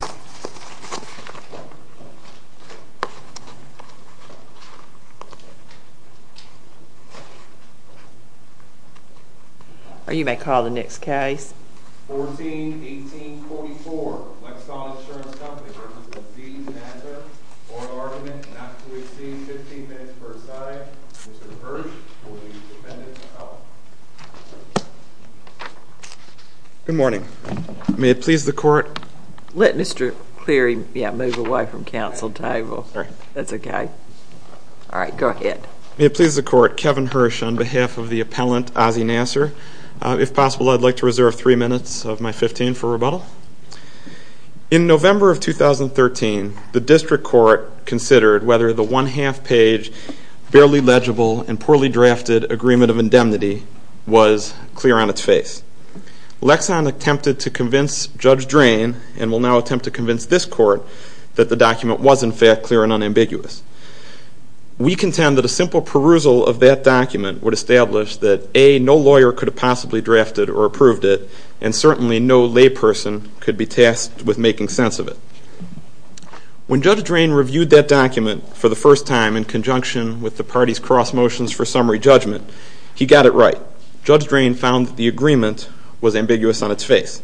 For an argument not to exceed 15 minutes per side, Mr. Hirsch will be defendant of. Good morning. May it please the court, Kevin Hirsch on behalf of the appellant Aziz Naser. If possible, I'd like to reserve three minutes of my 15 for rebuttal. In November of 2013, the district court considered whether the one-half page, barely legible, and poorly drafted agreement of indemnity was clear on its face. Lexon attempted to convince Judge Drain, and will now attempt to convince this court, that the document was in fact clear and unambiguous. We contend that a simple perusal of that document would establish that, A, no lawyer could have possibly drafted or approved it, and certainly no layperson could be tasked with making sense of it. When Judge Drain reviewed that document for the first time in conjunction with the party's cross motions for summary judgment, he got it right. But Judge Drain found that the agreement was ambiguous on its face.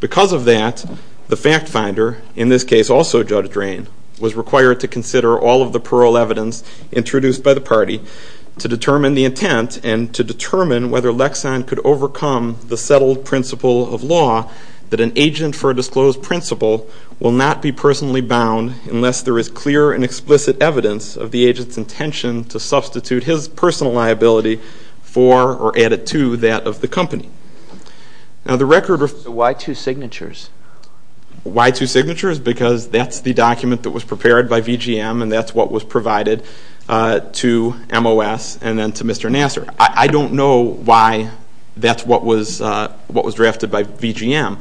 Because of that, the fact finder, in this case also Judge Drain, was required to consider all of the parole evidence introduced by the party to determine the intent and to determine whether Lexon could overcome the settled principle of law that an agent for a disclosed principle will not be personally bound unless there is clear and explicit evidence of the agent's intention to substitute his personal liability for, or add it to, that of the company. Why two signatures? Why two signatures? Because that's the document that was prepared by VGM and that's what was provided to MOS and then to Mr. Nassar. I don't know why that's what was drafted by VGM.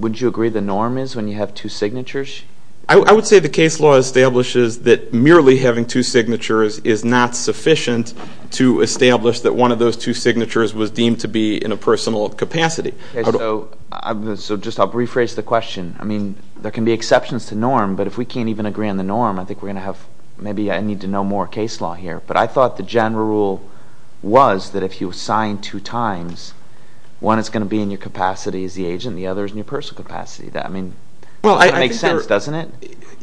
Would you agree the norm is when you have two signatures? I would say the case law establishes that merely having two signatures is not sufficient to establish that one of those two signatures was deemed to be in a personal capacity. So just I'll rephrase the question. I mean, there can be exceptions to norm, but if we can't even agree on the norm, I think we're going to have, maybe I need to know more case law here. But I thought the general rule was that if you sign two times, one is going to be in your capacity as the agent, the other is in your personal capacity. I mean, it makes sense, doesn't it?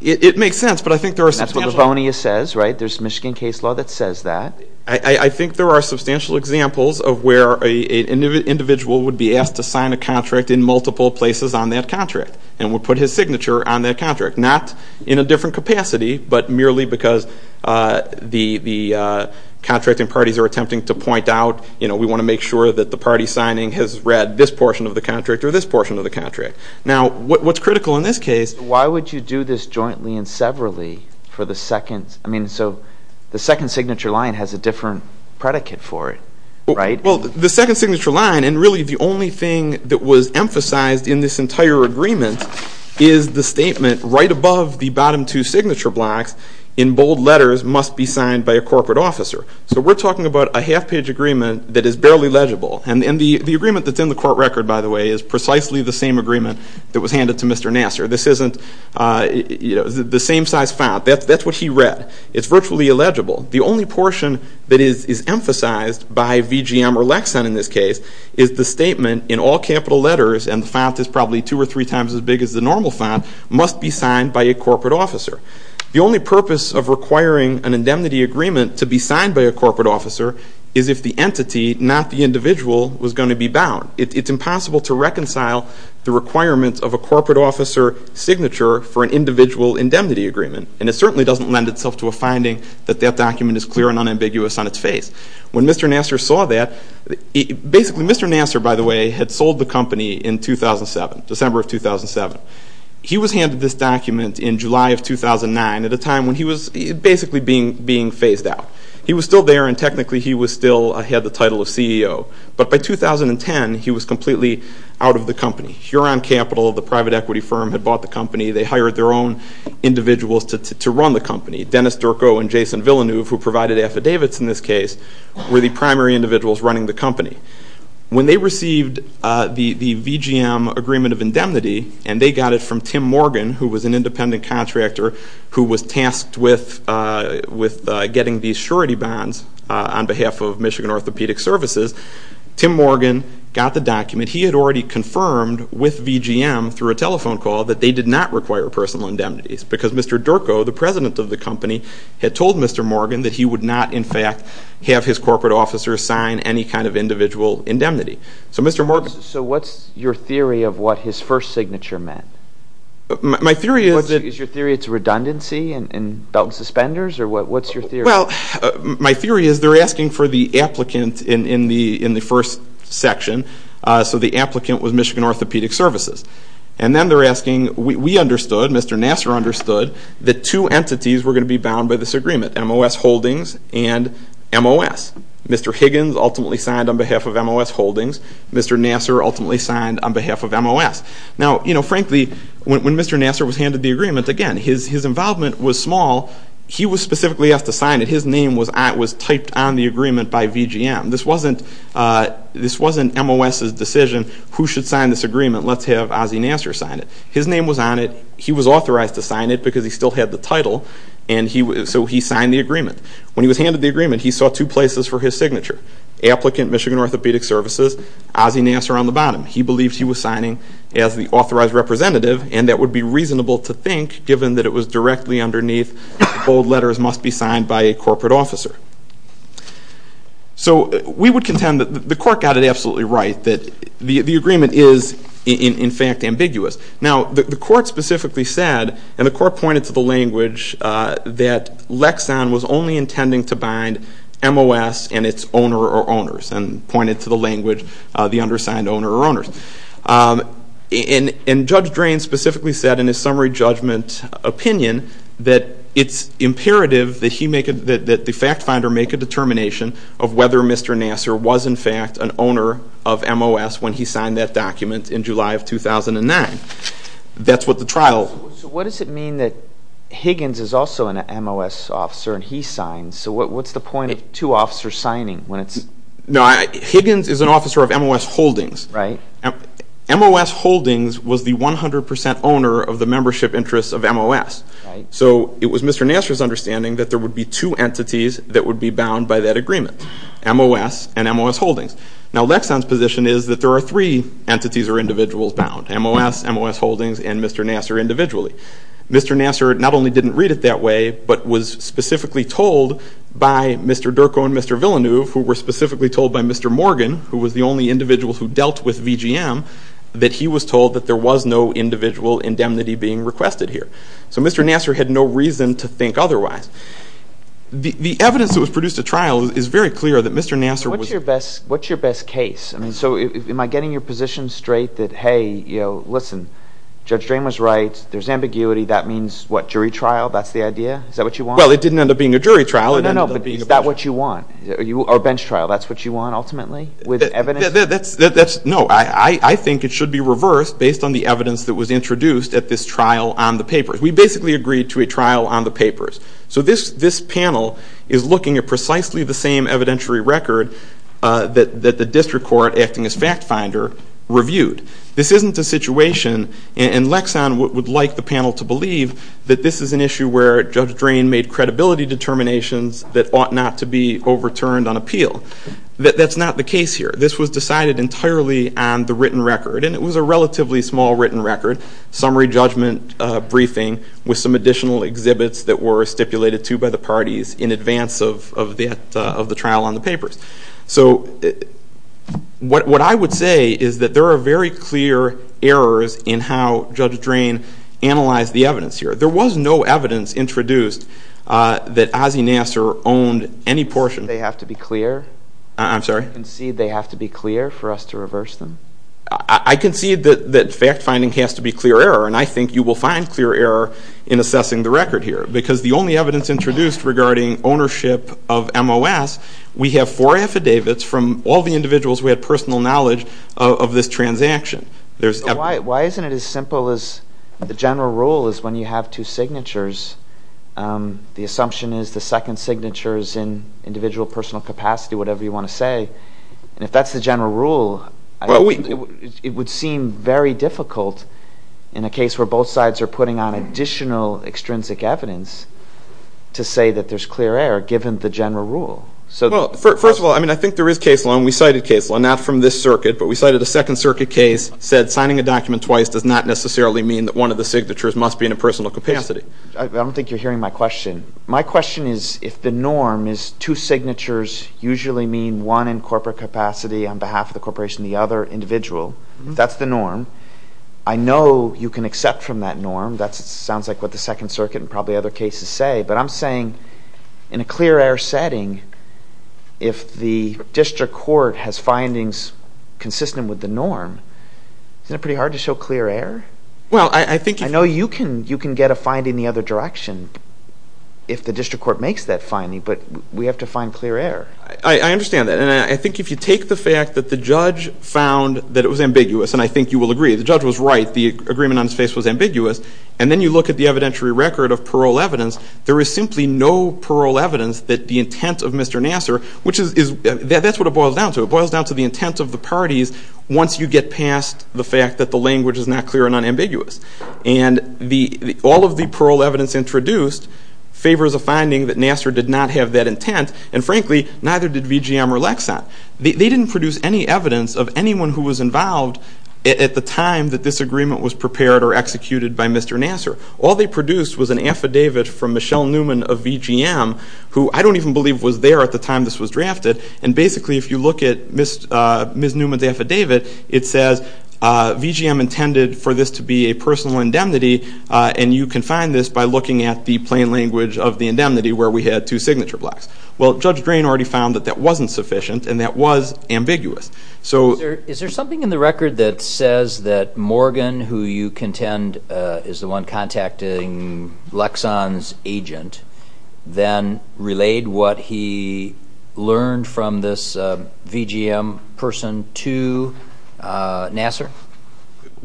It makes sense, but I think there are substantial... And that's what Livonia says, right? There's Michigan case law that says that. I think there are substantial examples of where an individual would be asked to sign a contract in multiple places on that contract and would put his signature on that contract, not in a different capacity, but merely because the contracting parties are attempting to point out, you know, we want to make sure that the party signing has read this portion of the contract or this portion of the contract. Now, what's critical in this case... Why would you do this jointly and severally for the second... I mean, so the second signature line has a different predicate for it, right? Well, the second signature line, and really the only thing that was emphasized in this entire agreement, is the statement right above the bottom two signature blocks, in bold letters, must be signed by a corporate officer. So we're talking about a half-page agreement that is barely legible. And the agreement that's in the court record, by the way, is precisely the same agreement that was handed to Mr. Nassar. This isn't, you know, the same size font. That's what he read. It's virtually illegible. The only portion that is emphasized by VGM or Lexan in this case is the statement in all capital letters, and the font is probably two or three times as big as the normal font, must be signed by a corporate officer. The only purpose of requiring an indemnity agreement to be signed by a corporate officer is if the entity, not the individual, was going to be bound. It's impossible to reconcile the requirements of a corporate officer signature for an individual indemnity agreement. And it certainly doesn't lend itself to a finding that that document is clear and unambiguous on its face. When Mr. Nassar saw that... Basically, Mr. Nassar, by the way, had sold the company in 2007, December of 2007. He was handed this document in July of 2009 at a time when he was basically being phased out. He was still there, and technically he still had the title of CEO. But by 2010, he was completely out of the company. Huron Capital, the private equity firm, had bought the company. They hired their own individuals to run the company. Dennis Durko and Jason Villeneuve, who provided affidavits in this case, were the primary individuals running the company. When they received the VGM agreement of indemnity, and they got it from Tim Morgan, who was an independent contractor who was tasked with getting these surety bonds on behalf of Michigan Orthopedic Services, Tim Morgan got the document. He had already confirmed with VGM through a telephone call that they did not require personal indemnities because Mr. Durko, the president of the company, had told Mr. Morgan that he would not, in fact, have his corporate officer sign any kind of individual indemnity. So Mr. Morgan... So what's your theory of what his first signature meant? My theory is that... Is your theory it's redundancy and belt and suspenders, or what's your theory? Well, my theory is they're asking for the applicant in the first section, so the applicant was Michigan Orthopedic Services. And then they're asking, we understood, Mr. Nassar understood, that two entities were going to be bound by this agreement, MOS Holdings and MOS. Mr. Higgins ultimately signed on behalf of MOS Holdings. Mr. Nassar ultimately signed on behalf of MOS. Now, frankly, when Mr. Nassar was handed the agreement, again, his involvement was small. He was specifically asked to sign it. His name was typed on the agreement by VGM. This wasn't MOS's decision, who should sign this agreement, let's have Ozzie Nassar sign it. His name was on it. He was authorized to sign it because he still had the title, so he signed the agreement. When he was handed the agreement, he saw two places for his signature. Applicant, Michigan Orthopedic Services, Ozzie Nassar on the bottom. He believed he was signing as the authorized representative, and that would be reasonable to think, given that it was directly underneath, bold letters must be signed by a corporate officer. So we would contend that the court got it absolutely right, that the agreement is, in fact, ambiguous. Now, the court specifically said, and the court pointed to the language, that Lexon was only intending to bind MOS and its owner or owners, and pointed to the language, the undersigned owner or owners. And Judge Drain specifically said in his summary judgment opinion that it's imperative that the fact finder make a determination of whether Mr. Nassar was, in fact, an owner of MOS when he signed that document in July of 2009. That's what the trial. So what does it mean that Higgins is also an MOS officer and he signed? So what's the point of two officers signing when it's? No, Higgins is an officer of MOS Holdings. MOS Holdings was the 100 percent owner of the membership interests of MOS. So it was Mr. Nassar's understanding that there would be two entities that would be bound by that agreement, MOS and MOS Holdings. Now, Lexon's position is that there are three entities or individuals bound, MOS, MOS Holdings, and Mr. Nassar individually. Mr. Nassar not only didn't read it that way but was specifically told by Mr. Durko and Mr. Villeneuve, who were specifically told by Mr. Morgan, who was the only individual who dealt with VGM, that he was told that there was no individual indemnity being requested here. So Mr. Nassar had no reason to think otherwise. The evidence that was produced at trial is very clear that Mr. Nassar was. What's your best case? So am I getting your position straight that, hey, listen, Judge Drain was right, there's ambiguity, that means what, jury trial, that's the idea? Is that what you want? Well, it didn't end up being a jury trial. No, no, no, but is that what you want? Or a bench trial, that's what you want ultimately with evidence? No, I think it should be reversed based on the evidence that was introduced at this trial on the papers. We basically agreed to a trial on the papers. So this panel is looking at precisely the same evidentiary record that the district court, acting as fact finder, reviewed. This isn't a situation, and Lexon would like the panel to believe, that this is an issue where Judge Drain made credibility determinations that ought not to be overturned on appeal. That's not the case here. This was decided entirely on the written record, and it was a relatively small written record, summary judgment briefing with some additional exhibits that were stipulated to by the parties in advance of the trial on the papers. So what I would say is that there are very clear errors in how Judge Drain analyzed the evidence here. There was no evidence introduced that Ossie Nasser owned any portion. They have to be clear? I'm sorry? Do you concede they have to be clear for us to reverse them? I concede that fact finding has to be clear error, and I think you will find clear error in assessing the record here, because the only evidence introduced regarding ownership of MOS, we have four affidavits from all the individuals who had personal knowledge of this transaction. Why isn't it as simple as the general rule is when you have two signatures, the assumption is the second signature is in individual personal capacity, whatever you want to say. If that's the general rule, it would seem very difficult in a case where both sides are putting on additional extrinsic evidence to say that there's clear error given the general rule. First of all, I think there is case law, and we cited case law, not from this circuit, but we cited a Second Circuit case that said signing a document twice does not necessarily mean that one of the signatures must be in a personal capacity. My question is if the norm is two signatures usually mean one in corporate capacity on behalf of the corporation and the other individual, if that's the norm, I know you can accept from that norm. That sounds like what the Second Circuit and probably other cases say, but I'm saying in a clear error setting, if the district court has findings consistent with the norm, isn't it pretty hard to show clear error? I know you can get a finding the other direction if the district court makes that finding, but we have to find clear error. I understand that, and I think if you take the fact that the judge found that it was ambiguous, and I think you will agree the judge was right, the agreement on his face was ambiguous, and then you look at the evidentiary record of parole evidence, there is simply no parole evidence that the intent of Mr. Nassar, which is, that's what it boils down to, it boils down to the intent of the parties once you get past the fact that the language is not clear and unambiguous. And all of the parole evidence introduced favors a finding that Nassar did not have that intent, and frankly, neither did VGM or Lexon. They didn't produce any evidence of anyone who was involved at the time that this agreement was prepared or executed by Mr. Nassar. All they produced was an affidavit from Michelle Newman of VGM, who I don't even believe was there at the time this was drafted, and basically if you look at Ms. Newman's affidavit, it says VGM intended for this to be a personal indemnity, and you can find this by looking at the plain language of the indemnity where we had two signature blocks. Well, Judge Drain already found that that wasn't sufficient, and that was ambiguous. Is there something in the record that says that Morgan, who you contend is the one contacting Lexon's agent, then relayed what he learned from this VGM person to Nassar?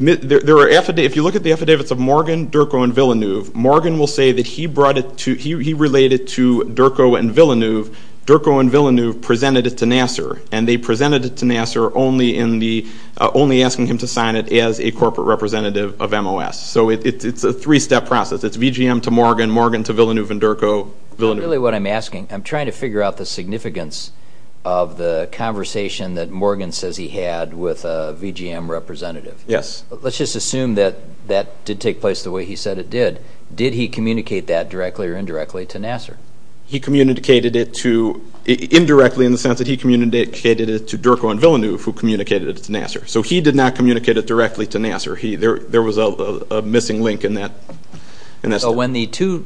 If you look at the affidavits of Morgan, Durko, and Villeneuve, Morgan will say that he relayed it to Durko and Villeneuve. Durko and Villeneuve presented it to Nassar, and they presented it to Nassar only asking him to sign it as a corporate representative of MOS. So it's a three-step process. It's VGM to Morgan, Morgan to Villeneuve and Durko, Villeneuve. Really what I'm asking, I'm trying to figure out the significance of the conversation that Morgan says he had with a VGM representative. Yes. Let's just assume that that did take place the way he said it did. Did he communicate that directly or indirectly to Nassar? He communicated it to, indirectly in the sense that he communicated it to Durko and Villeneuve, who communicated it to Nassar. So he did not communicate it directly to Nassar. There was a missing link in that. So when the two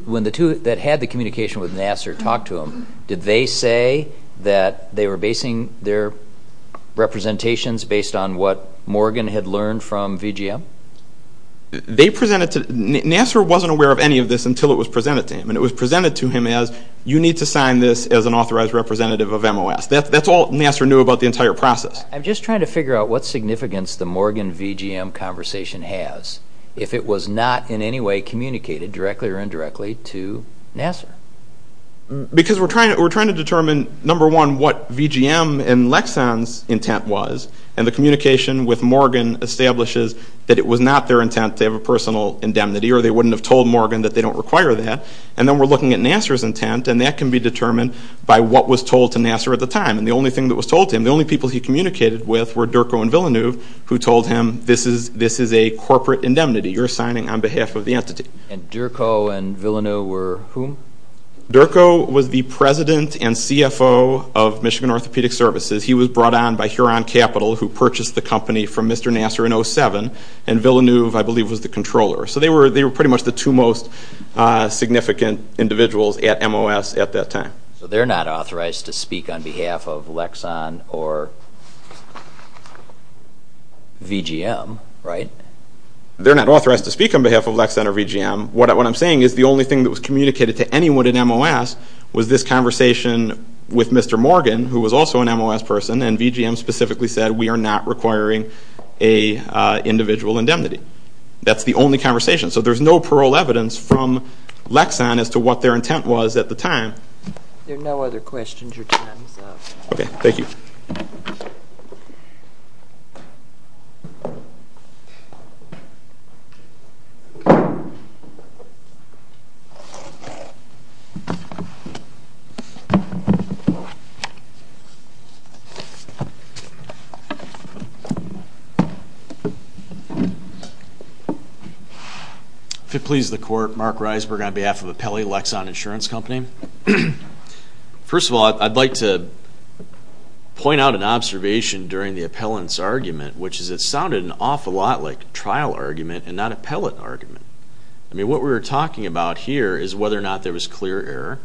that had the communication with Nassar talked to him, did they say that they were basing their representations based on what Morgan had learned from VGM? Nassar wasn't aware of any of this until it was presented to him, and it was presented to him as, you need to sign this as an authorized representative of MOS. That's all Nassar knew about the entire process. I'm just trying to figure out what significance the Morgan-VGM conversation has, if it was not in any way communicated directly or indirectly to Nassar. Because we're trying to determine, number one, what VGM and Lexon's intent was, and the communication with Morgan establishes that it was not their intent to have a personal indemnity, or they wouldn't have told Morgan that they don't require that. And then we're looking at Nassar's intent, and that can be determined by what was told to Nassar at the time. And the only thing that was told to him, the only people he communicated with were Durko and Villeneuve, who told him, this is a corporate indemnity. You're signing on behalf of the entity. And Durko and Villeneuve were whom? Durko was the president and CFO of Michigan Orthopedic Services. He was brought on by Huron Capital, who purchased the company from Mr. Nassar in 07. And Villeneuve, I believe, was the controller. So they were pretty much the two most significant individuals at MOS at that time. So they're not authorized to speak on behalf of Lexon or VGM, right? They're not authorized to speak on behalf of Lexon or VGM. What I'm saying is the only thing that was communicated to anyone at MOS was this conversation with Mr. Morgan, who was also an MOS person, and VGM specifically said, we are not requiring an individual indemnity. That's the only conversation. So there's no parole evidence from Lexon as to what their intent was at the time. There are no other questions or comments. Okay. Thank you. Thank you. If it pleases the Court, Mark Reisberg on behalf of Appellee Lexon Insurance Company. First of all, I'd like to point out an observation during the appellant's argument, which is it sounded an awful lot like trial argument and not appellate argument. I mean, what we were talking about here is whether or not there was clear error,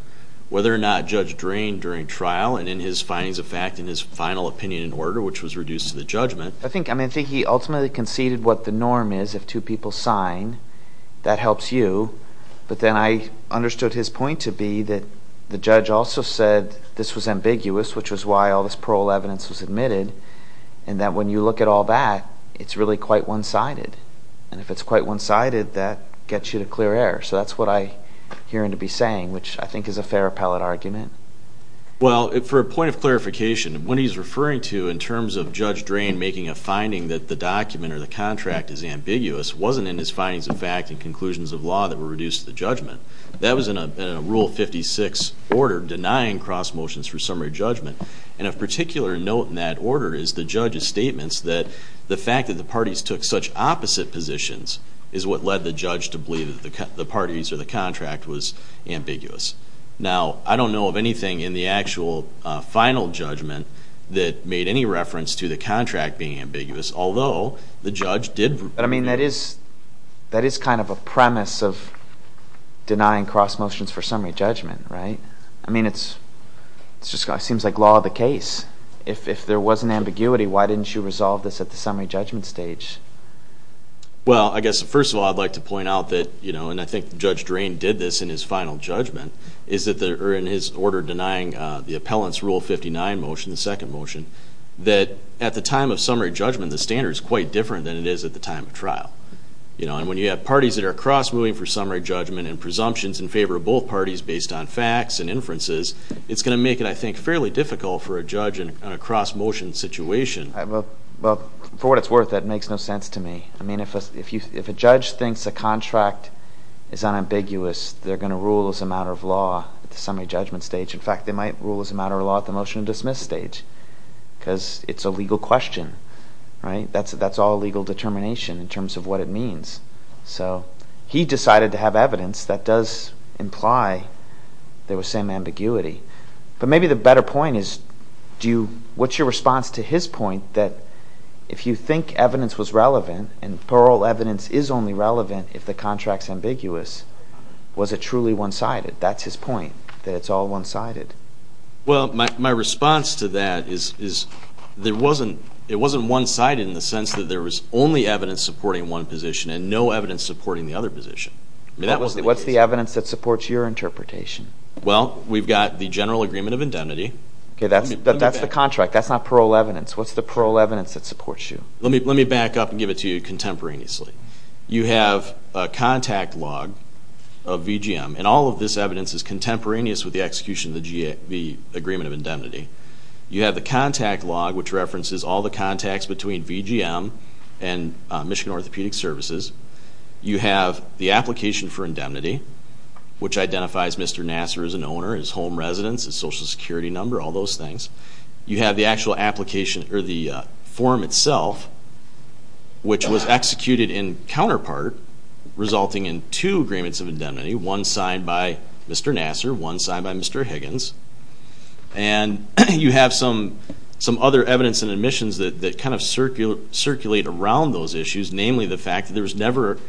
whether or not Judge Drain during trial and in his findings of fact and his final opinion in order, which was reduced to the judgment. I think he ultimately conceded what the norm is. If two people sign, that helps you. But then I understood his point to be that the judge also said this was ambiguous, which was why all this parole evidence was admitted, and that when you look at all that, it's really quite one-sided. And if it's quite one-sided, that gets you to clear error. So that's what I hear him to be saying, which I think is a fair appellate argument. Well, for a point of clarification, what he's referring to in terms of Judge Drain making a finding that the document or the contract is ambiguous wasn't in his findings of fact and conclusions of law that were reduced to the judgment. That was in a Rule 56 order denying cross motions for summary judgment. And of particular note in that order is the judge's statements that the fact that the parties took such opposite positions is what led the judge to believe that the parties or the contract was ambiguous. Now, I don't know of anything in the actual final judgment that made any reference to the contract being ambiguous, although the judge did. But, I mean, that is kind of a premise of denying cross motions for summary judgment, right? I mean, it seems like law of the case. If there was an ambiguity, why didn't you resolve this at the summary judgment stage? Well, I guess first of all, I'd like to point out that, you know, and I think Judge Drain did this in his final judgment, is that in his order denying the appellant's Rule 59 motion, the second motion, that at the time of summary judgment, the standard is quite different than it is at the time of trial. And when you have parties that are cross-moving for summary judgment and presumptions in favor of both parties based on facts and inferences, it's going to make it, I think, fairly difficult for a judge in a cross-motion situation. Well, for what it's worth, that makes no sense to me. I mean, if a judge thinks a contract is unambiguous, they're going to rule as a matter of law at the summary judgment stage. In fact, they might rule as a matter of law at the motion to dismiss stage because it's a legal question, right? That's all legal determination in terms of what it means. So he decided to have evidence that does imply there was some ambiguity. But maybe the better point is what's your response to his point that if you think evidence was relevant and parole evidence is only relevant if the contract's ambiguous, was it truly one-sided? That's his point, that it's all one-sided. Well, my response to that is it wasn't one-sided in the sense that there was only evidence supporting one position and no evidence supporting the other position. What's the evidence that supports your interpretation? Well, we've got the general agreement of indemnity. That's the contract. That's not parole evidence. What's the parole evidence that supports you? Let me back up and give it to you contemporaneously. You have a contact log of VGM, and all of this evidence is contemporaneous with the execution of the agreement of indemnity. You have the contact log, which references all the contacts between VGM and Michigan Orthopedic Services. You have the application for indemnity, which identifies Mr. Nassar as an owner, his home residence, his Social Security number, all those things. You have the actual application, or the form itself, which was executed in counterpart, resulting in two agreements of indemnity, one signed by Mr. Nassar, one signed by Mr. Higgins. And you have some other evidence and admissions that kind of circulate around those issues, namely the fact that there was never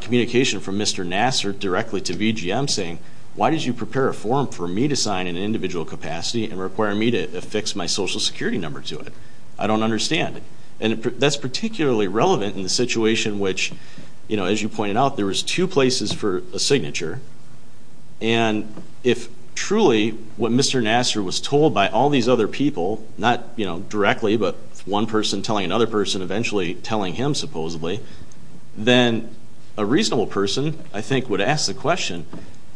communication from Mr. Nassar directly to VGM saying, why did you prepare a form for me to sign in an individual capacity and require me to affix my Social Security number to it? I don't understand. And that's particularly relevant in the situation which, as you pointed out, there was two places for a signature. And if truly what Mr. Nassar was told by all these other people, not directly, but one person telling another person, eventually telling him, supposedly, then a reasonable person, I think, would ask the question,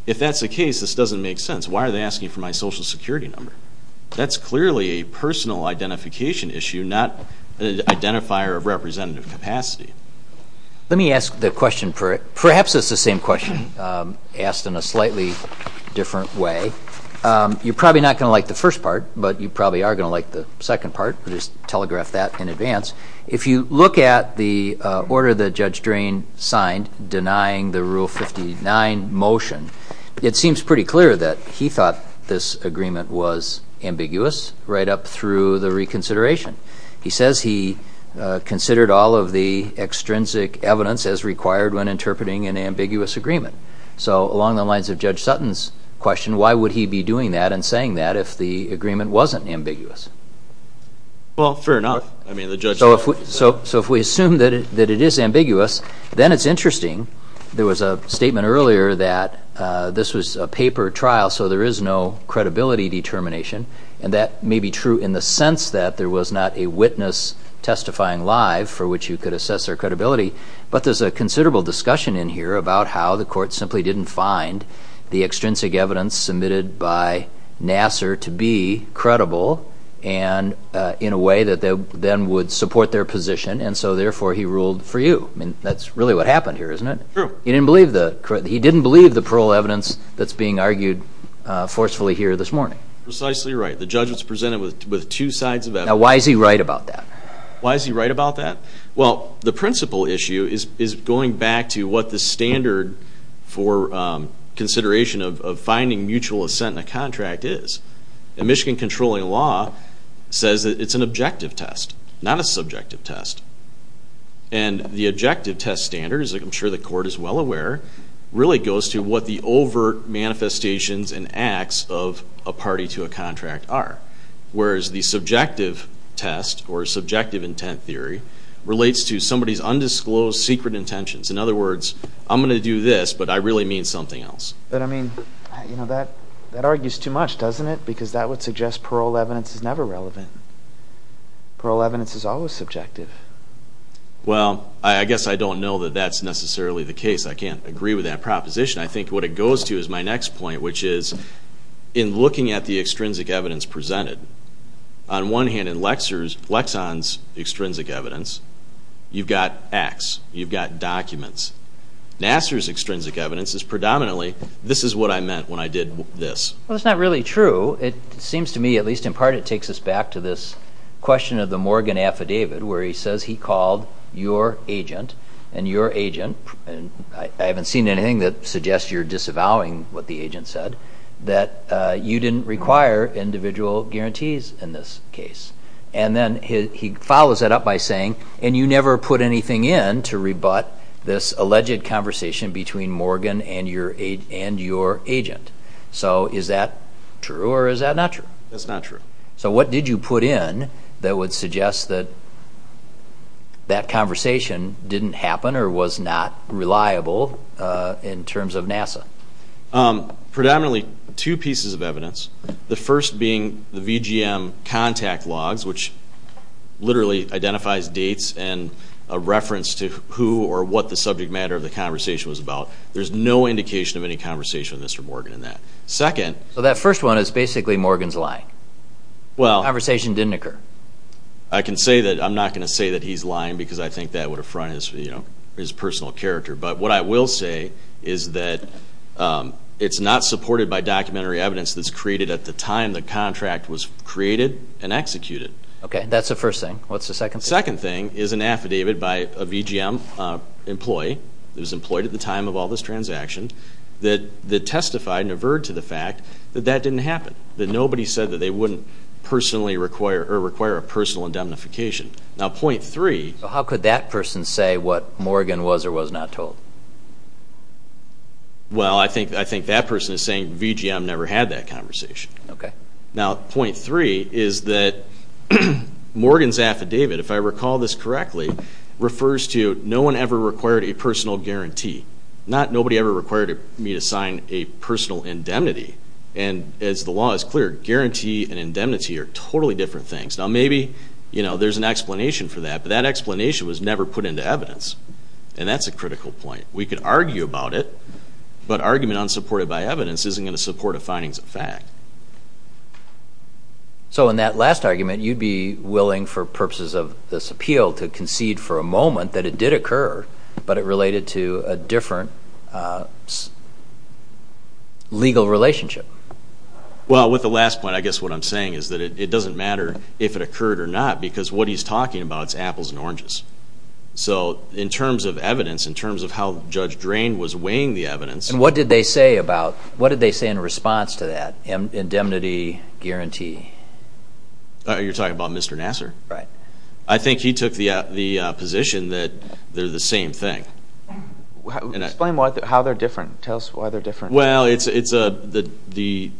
if that's the case, this doesn't make sense. Why are they asking for my Social Security number? That's clearly a personal identification issue, not an identifier of representative capacity. Let me ask the question. Perhaps it's the same question asked in a slightly different way. You're probably not going to like the first part, but you probably are going to like the second part. We'll just telegraph that in advance. If you look at the order that Judge Drain signed denying the Rule 59 motion, it seems pretty clear that he thought this agreement was ambiguous right up through the reconsideration. He says he considered all of the extrinsic evidence as required when interpreting an ambiguous agreement. So along the lines of Judge Sutton's question, why would he be doing that and saying that if the agreement wasn't ambiguous? Well, fair enough. So if we assume that it is ambiguous, then it's interesting. There was a statement earlier that this was a paper trial, so there is no credibility determination. And that may be true in the sense that there was not a witness testifying live for which you could assess their credibility. But there's a considerable discussion in here about how the court simply didn't find the extrinsic evidence submitted by Nassar to be credible and in a way that then would support their position. And so, therefore, he ruled for you. That's really what happened here, isn't it? True. He didn't believe the parole evidence that's being argued forcefully here this morning. Precisely right. The judge was presented with two sides of evidence. Now, why is he right about that? Why is he right about that? Well, the principal issue is going back to what the standard for consideration of finding mutual assent in a contract is. And Michigan controlling law says that it's an objective test, not a subjective test. And the objective test standard, as I'm sure the court is well aware, really goes to what the overt manifestations and acts of a party to a contract are. Whereas the subjective test or subjective intent theory relates to somebody's undisclosed secret intentions. In other words, I'm going to do this, but I really mean something else. But, I mean, that argues too much, doesn't it? Because that would suggest parole evidence is never relevant. Parole evidence is always subjective. Well, I guess I don't know that that's necessarily the case. I can't agree with that proposition. I think what it goes to is my next point, which is, in looking at the extrinsic evidence presented, on one hand, in Lexon's extrinsic evidence, you've got acts. You've got documents. Nassar's extrinsic evidence is predominantly, this is what I meant when I did this. Well, that's not really true. It seems to me, at least in part, it takes us back to this question of the Morgan affidavit, where he says he called your agent and your agent, and I haven't seen anything that suggests you're disavowing what the agent said, that you didn't require individual guarantees in this case. And then he follows that up by saying, and you never put anything in to rebut this alleged conversation between Morgan and your agent. So is that true or is that not true? That's not true. So what did you put in that would suggest that that conversation didn't happen or was not reliable in terms of Nassar? Predominantly two pieces of evidence, the first being the VGM contact logs, which literally identifies dates and a reference to who or what the subject matter of the conversation was about. There's no indication of any conversation with Mr. Morgan in that. So that first one is basically Morgan's lying. The conversation didn't occur. I'm not going to say that he's lying because I think that would affront his personal character, but what I will say is that it's not supported by documentary evidence that's created at the time the contract was created and executed. Okay, that's the first thing. What's the second thing? The second thing is an affidavit by a VGM employee that was employed at the time of all this transaction that testified and averred to the fact that that didn't happen, that nobody said that they wouldn't personally require a personal indemnification. Now, point three. How could that person say what Morgan was or was not told? Well, I think that person is saying VGM never had that conversation. Okay. Now, point three is that Morgan's affidavit, if I recall this correctly, refers to no one ever required a personal guarantee, not nobody ever required me to sign a personal indemnity. And as the law is clear, guarantee and indemnity are totally different things. Now, maybe there's an explanation for that, but that explanation was never put into evidence, and that's a critical point. We could argue about it, but argument unsupported by evidence isn't going to support a findings of fact. So in that last argument, you'd be willing for purposes of this appeal to concede for a moment that it did occur, but it related to a different legal relationship. Well, with the last point, I guess what I'm saying is that it doesn't matter if it occurred or not because what he's talking about is apples and oranges. So in terms of evidence, in terms of how Judge Drain was weighing the evidence. And what did they say in response to that indemnity guarantee? You're talking about Mr. Nassar? Right. I think he took the position that they're the same thing. Explain how they're different. Tell us why they're different. Well, the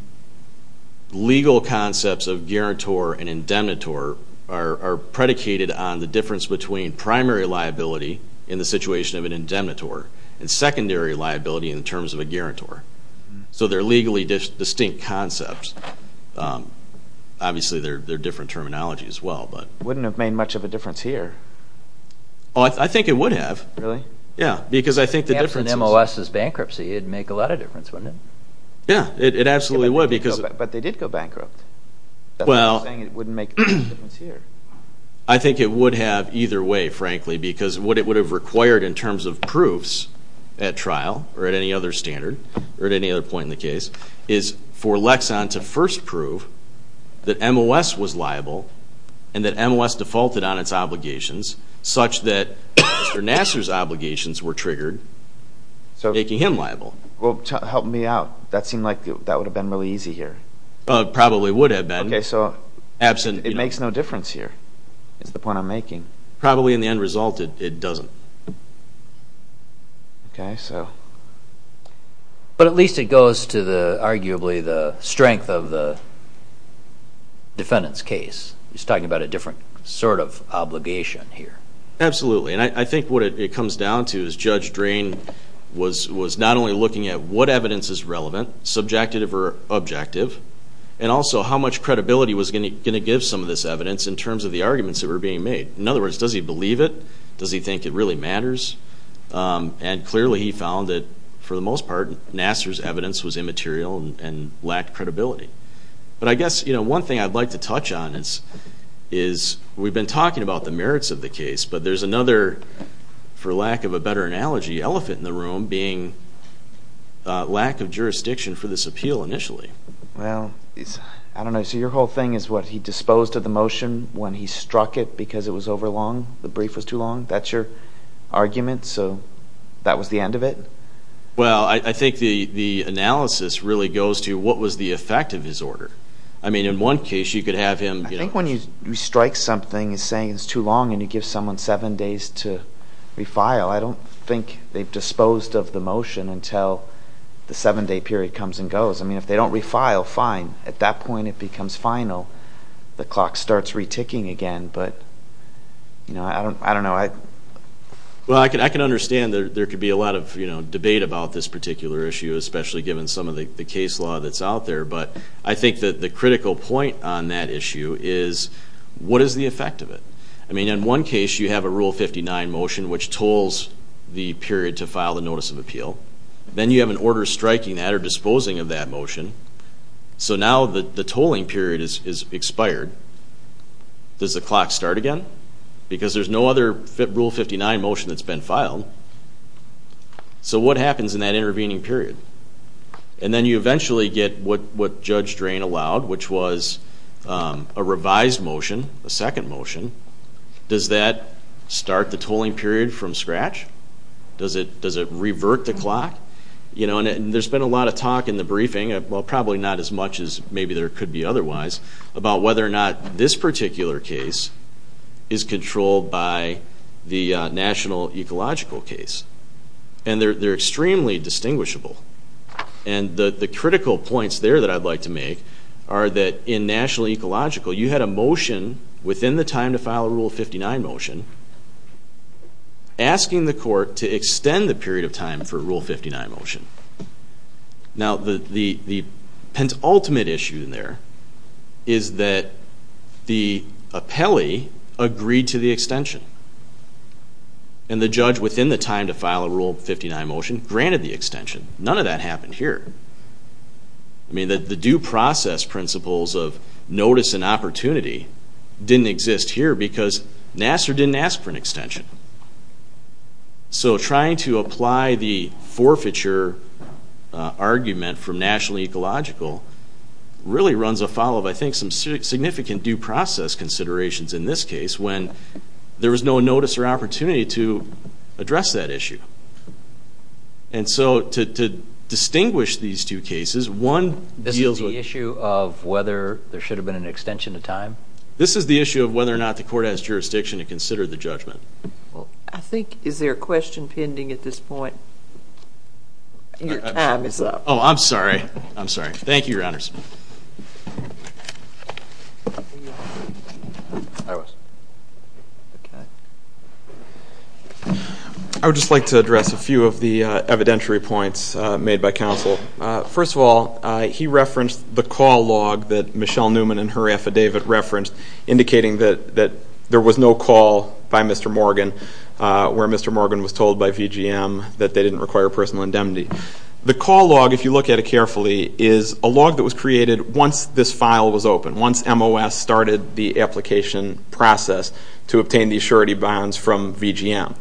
legal concepts of guarantor and indemnitor are predicated on the difference between primary liability in the situation of an indemnitor and secondary liability in terms of a guarantor. So they're legally distinct concepts. Obviously, they're different terminology as well. Wouldn't it have made much of a difference here? I think it would have. Yeah, because I think the difference is... If it's an MOS's bankruptcy, it'd make a lot of difference, wouldn't it? Yeah, it absolutely would because... But they did go bankrupt. Well... I'm saying it wouldn't make a difference here. I think it would have either way, frankly, because what it would have required in terms of proofs at trial or at any other standard or at any other point in the case is for Lexon to first prove that MOS was liable and that MOS defaulted on its obligations such that Mr. Nassar's obligations were triggered, making him liable. Well, help me out. That seemed like that would have been really easy here. Probably would have been. Okay, so it makes no difference here is the point I'm making. Probably in the end result, it doesn't. Okay, so... But at least it goes to, arguably, the strength of the defendant's case. He's talking about a different sort of obligation here. Absolutely, and I think what it comes down to is Judge Drain was not only looking at what evidence is relevant, subjective or objective, and also how much credibility was going to give some of this evidence in terms of the arguments that were being made. In other words, does he believe it? Does he think it really matters? And clearly he found that, for the most part, Nassar's evidence was immaterial and lacked credibility. But I guess one thing I'd like to touch on is we've been talking about the merits of the case, but there's another, for lack of a better analogy, elephant in the room, being lack of jurisdiction for this appeal initially. Well, I don't know. So your whole thing is, what, he disposed of the motion when he struck it because it was overlong? The brief was too long? That's your argument? So that was the end of it? Well, I think the analysis really goes to what was the effect of his order? I mean, in one case, you could have him... I think when you strike something and say it's too long and you give someone seven days to refile, I don't think they've disposed of the motion until the seven-day period comes and goes. I mean, if they don't refile, fine. At that point, it becomes final. The clock starts reticking again. But, you know, I don't know. Well, I can understand there could be a lot of, you know, debate about this particular issue, especially given some of the case law that's out there. But I think that the critical point on that issue is, what is the effect of it? I mean, in one case, you have a Rule 59 motion which tolls the period to file the notice of appeal. Then you have an order striking that or disposing of that motion. So now the tolling period is expired. Does the clock start again? Because there's no other Rule 59 motion that's been filed. So what happens in that intervening period? And then you eventually get what Judge Drain allowed, which was a revised motion, a second motion. Does that start the tolling period from scratch? Does it revert the clock? You know, and there's been a lot of talk in the briefing, well, probably not as much as maybe there could be otherwise, about whether or not this particular case is controlled by the national ecological case. And they're extremely distinguishable. And the critical points there that I'd like to make are that in national ecological, you had a motion within the time to file a Rule 59 motion asking the court to extend the period of time for a Rule 59 motion. Now, the ultimate issue in there is that the appellee agreed to the extension. And the judge within the time to file a Rule 59 motion granted the extension. None of that happened here. I mean, the due process principles of notice and opportunity didn't exist here because Nassar didn't ask for an extension. So trying to apply the forfeiture argument from national ecological really runs afoul of, I think, some significant due process considerations in this case when there was no notice or opportunity to address that issue. And so to distinguish these two cases, one deals with... This is the issue of whether there should have been an extension of time? This is the issue of whether or not the court has jurisdiction to consider the judgment? I think is there a question pending at this point? Your time is up. Oh, I'm sorry. I'm sorry. Thank you, Your Honors. I would just like to address a few of the evidentiary points made by counsel. First of all, he referenced the call log that Michelle Newman in her affidavit referenced, indicating that there was no call by Mr. Morgan where Mr. Morgan was told by VGM that they didn't require personal indemnity. The call log, if you look at it carefully, is a log that was created once this file was open, once MOS started the application process to obtain the surety bonds from VGM.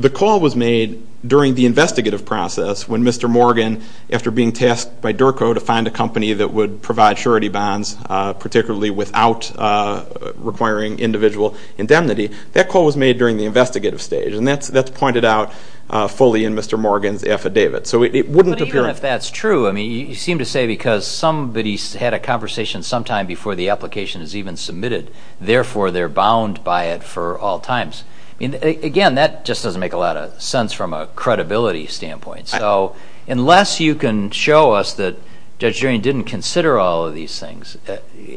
The call was made during the investigative process when Mr. Morgan, after being tasked by DERCO to find a company that would provide surety bonds, particularly without requiring individual indemnity. That call was made during the investigative stage, and that's pointed out fully in Mr. Morgan's affidavit. But even if that's true, you seem to say because somebody had a conversation sometime before the application was even submitted, therefore they're bound by it for all times. Again, that just doesn't make a lot of sense from a credibility standpoint. So unless you can show us that Judge Drain didn't consider all of these things,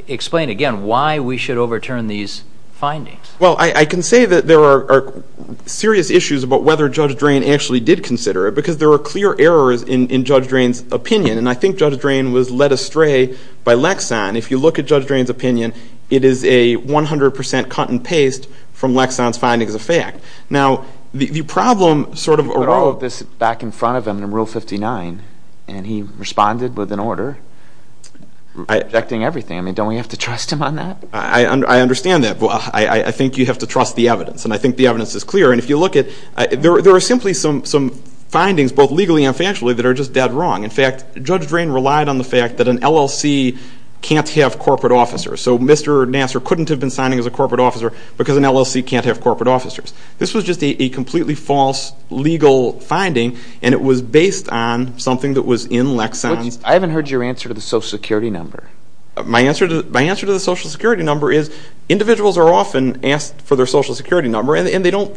explain again why we should overturn these findings. Well, I can say that there are serious issues about whether Judge Drain actually did consider it because there were clear errors in Judge Drain's opinion, and I think Judge Drain was led astray by Lexon. If you look at Judge Drain's opinion, it is a 100 percent cut and paste from Lexon's findings of fact. Now, the problem sort of arose... He put all of this back in front of him in Rule 59, and he responded with an order rejecting everything. I mean, don't we have to trust him on that? I understand that, but I think you have to trust the evidence, and I think the evidence is clear. And if you look at it, there are simply some findings, both legally and factually, that are just dead wrong. In fact, Judge Drain relied on the fact that an LLC can't have corporate officers. So Mr. Nassar couldn't have been signing as a corporate officer because an LLC can't have corporate officers. This was just a completely false legal finding, and it was based on something that was in Lexon's... I haven't heard your answer to the Social Security number. My answer to the Social Security number is individuals are often asked for their Social Security number, and they don't...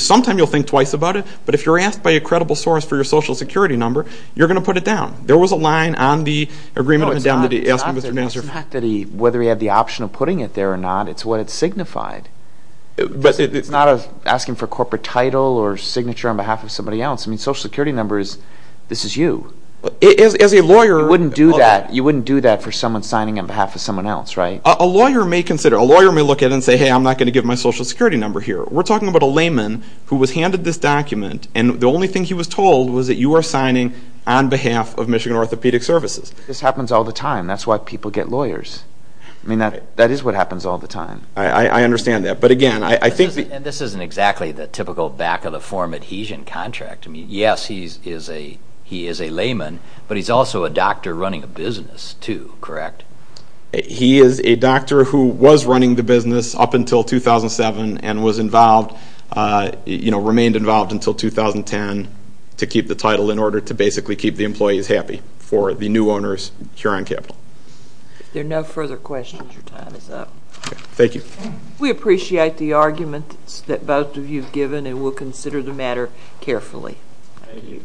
Sometime you'll think twice about it, but if you're asked by a credible source for your Social Security number, you're going to put it down. There was a line on the Agreement of Indemnity asking Mr. Nassar... No, it's not that he... It's not asking for a corporate title or signature on behalf of somebody else. I mean, Social Security number is... This is you. As a lawyer... You wouldn't do that for someone signing on behalf of someone else, right? A lawyer may consider... A lawyer may look at it and say, hey, I'm not going to give my Social Security number here. We're talking about a layman who was handed this document, and the only thing he was told was that you were signing on behalf of Michigan Orthopedic Services. This happens all the time. That's why people get lawyers. I mean, that is what happens all the time. I understand that, but again, I think... And this isn't exactly the typical back-of-the-form adhesion contract. I mean, yes, he is a layman, but he's also a doctor running a business too, correct? He is a doctor who was running the business up until 2007 and was involved... You know, remained involved until 2010 to keep the title in order to basically keep the employees happy for the new owners, Huron Capital. If there are no further questions, your time is up. Thank you. We appreciate the arguments that both of you have given, and we'll consider the matter carefully. Thank you.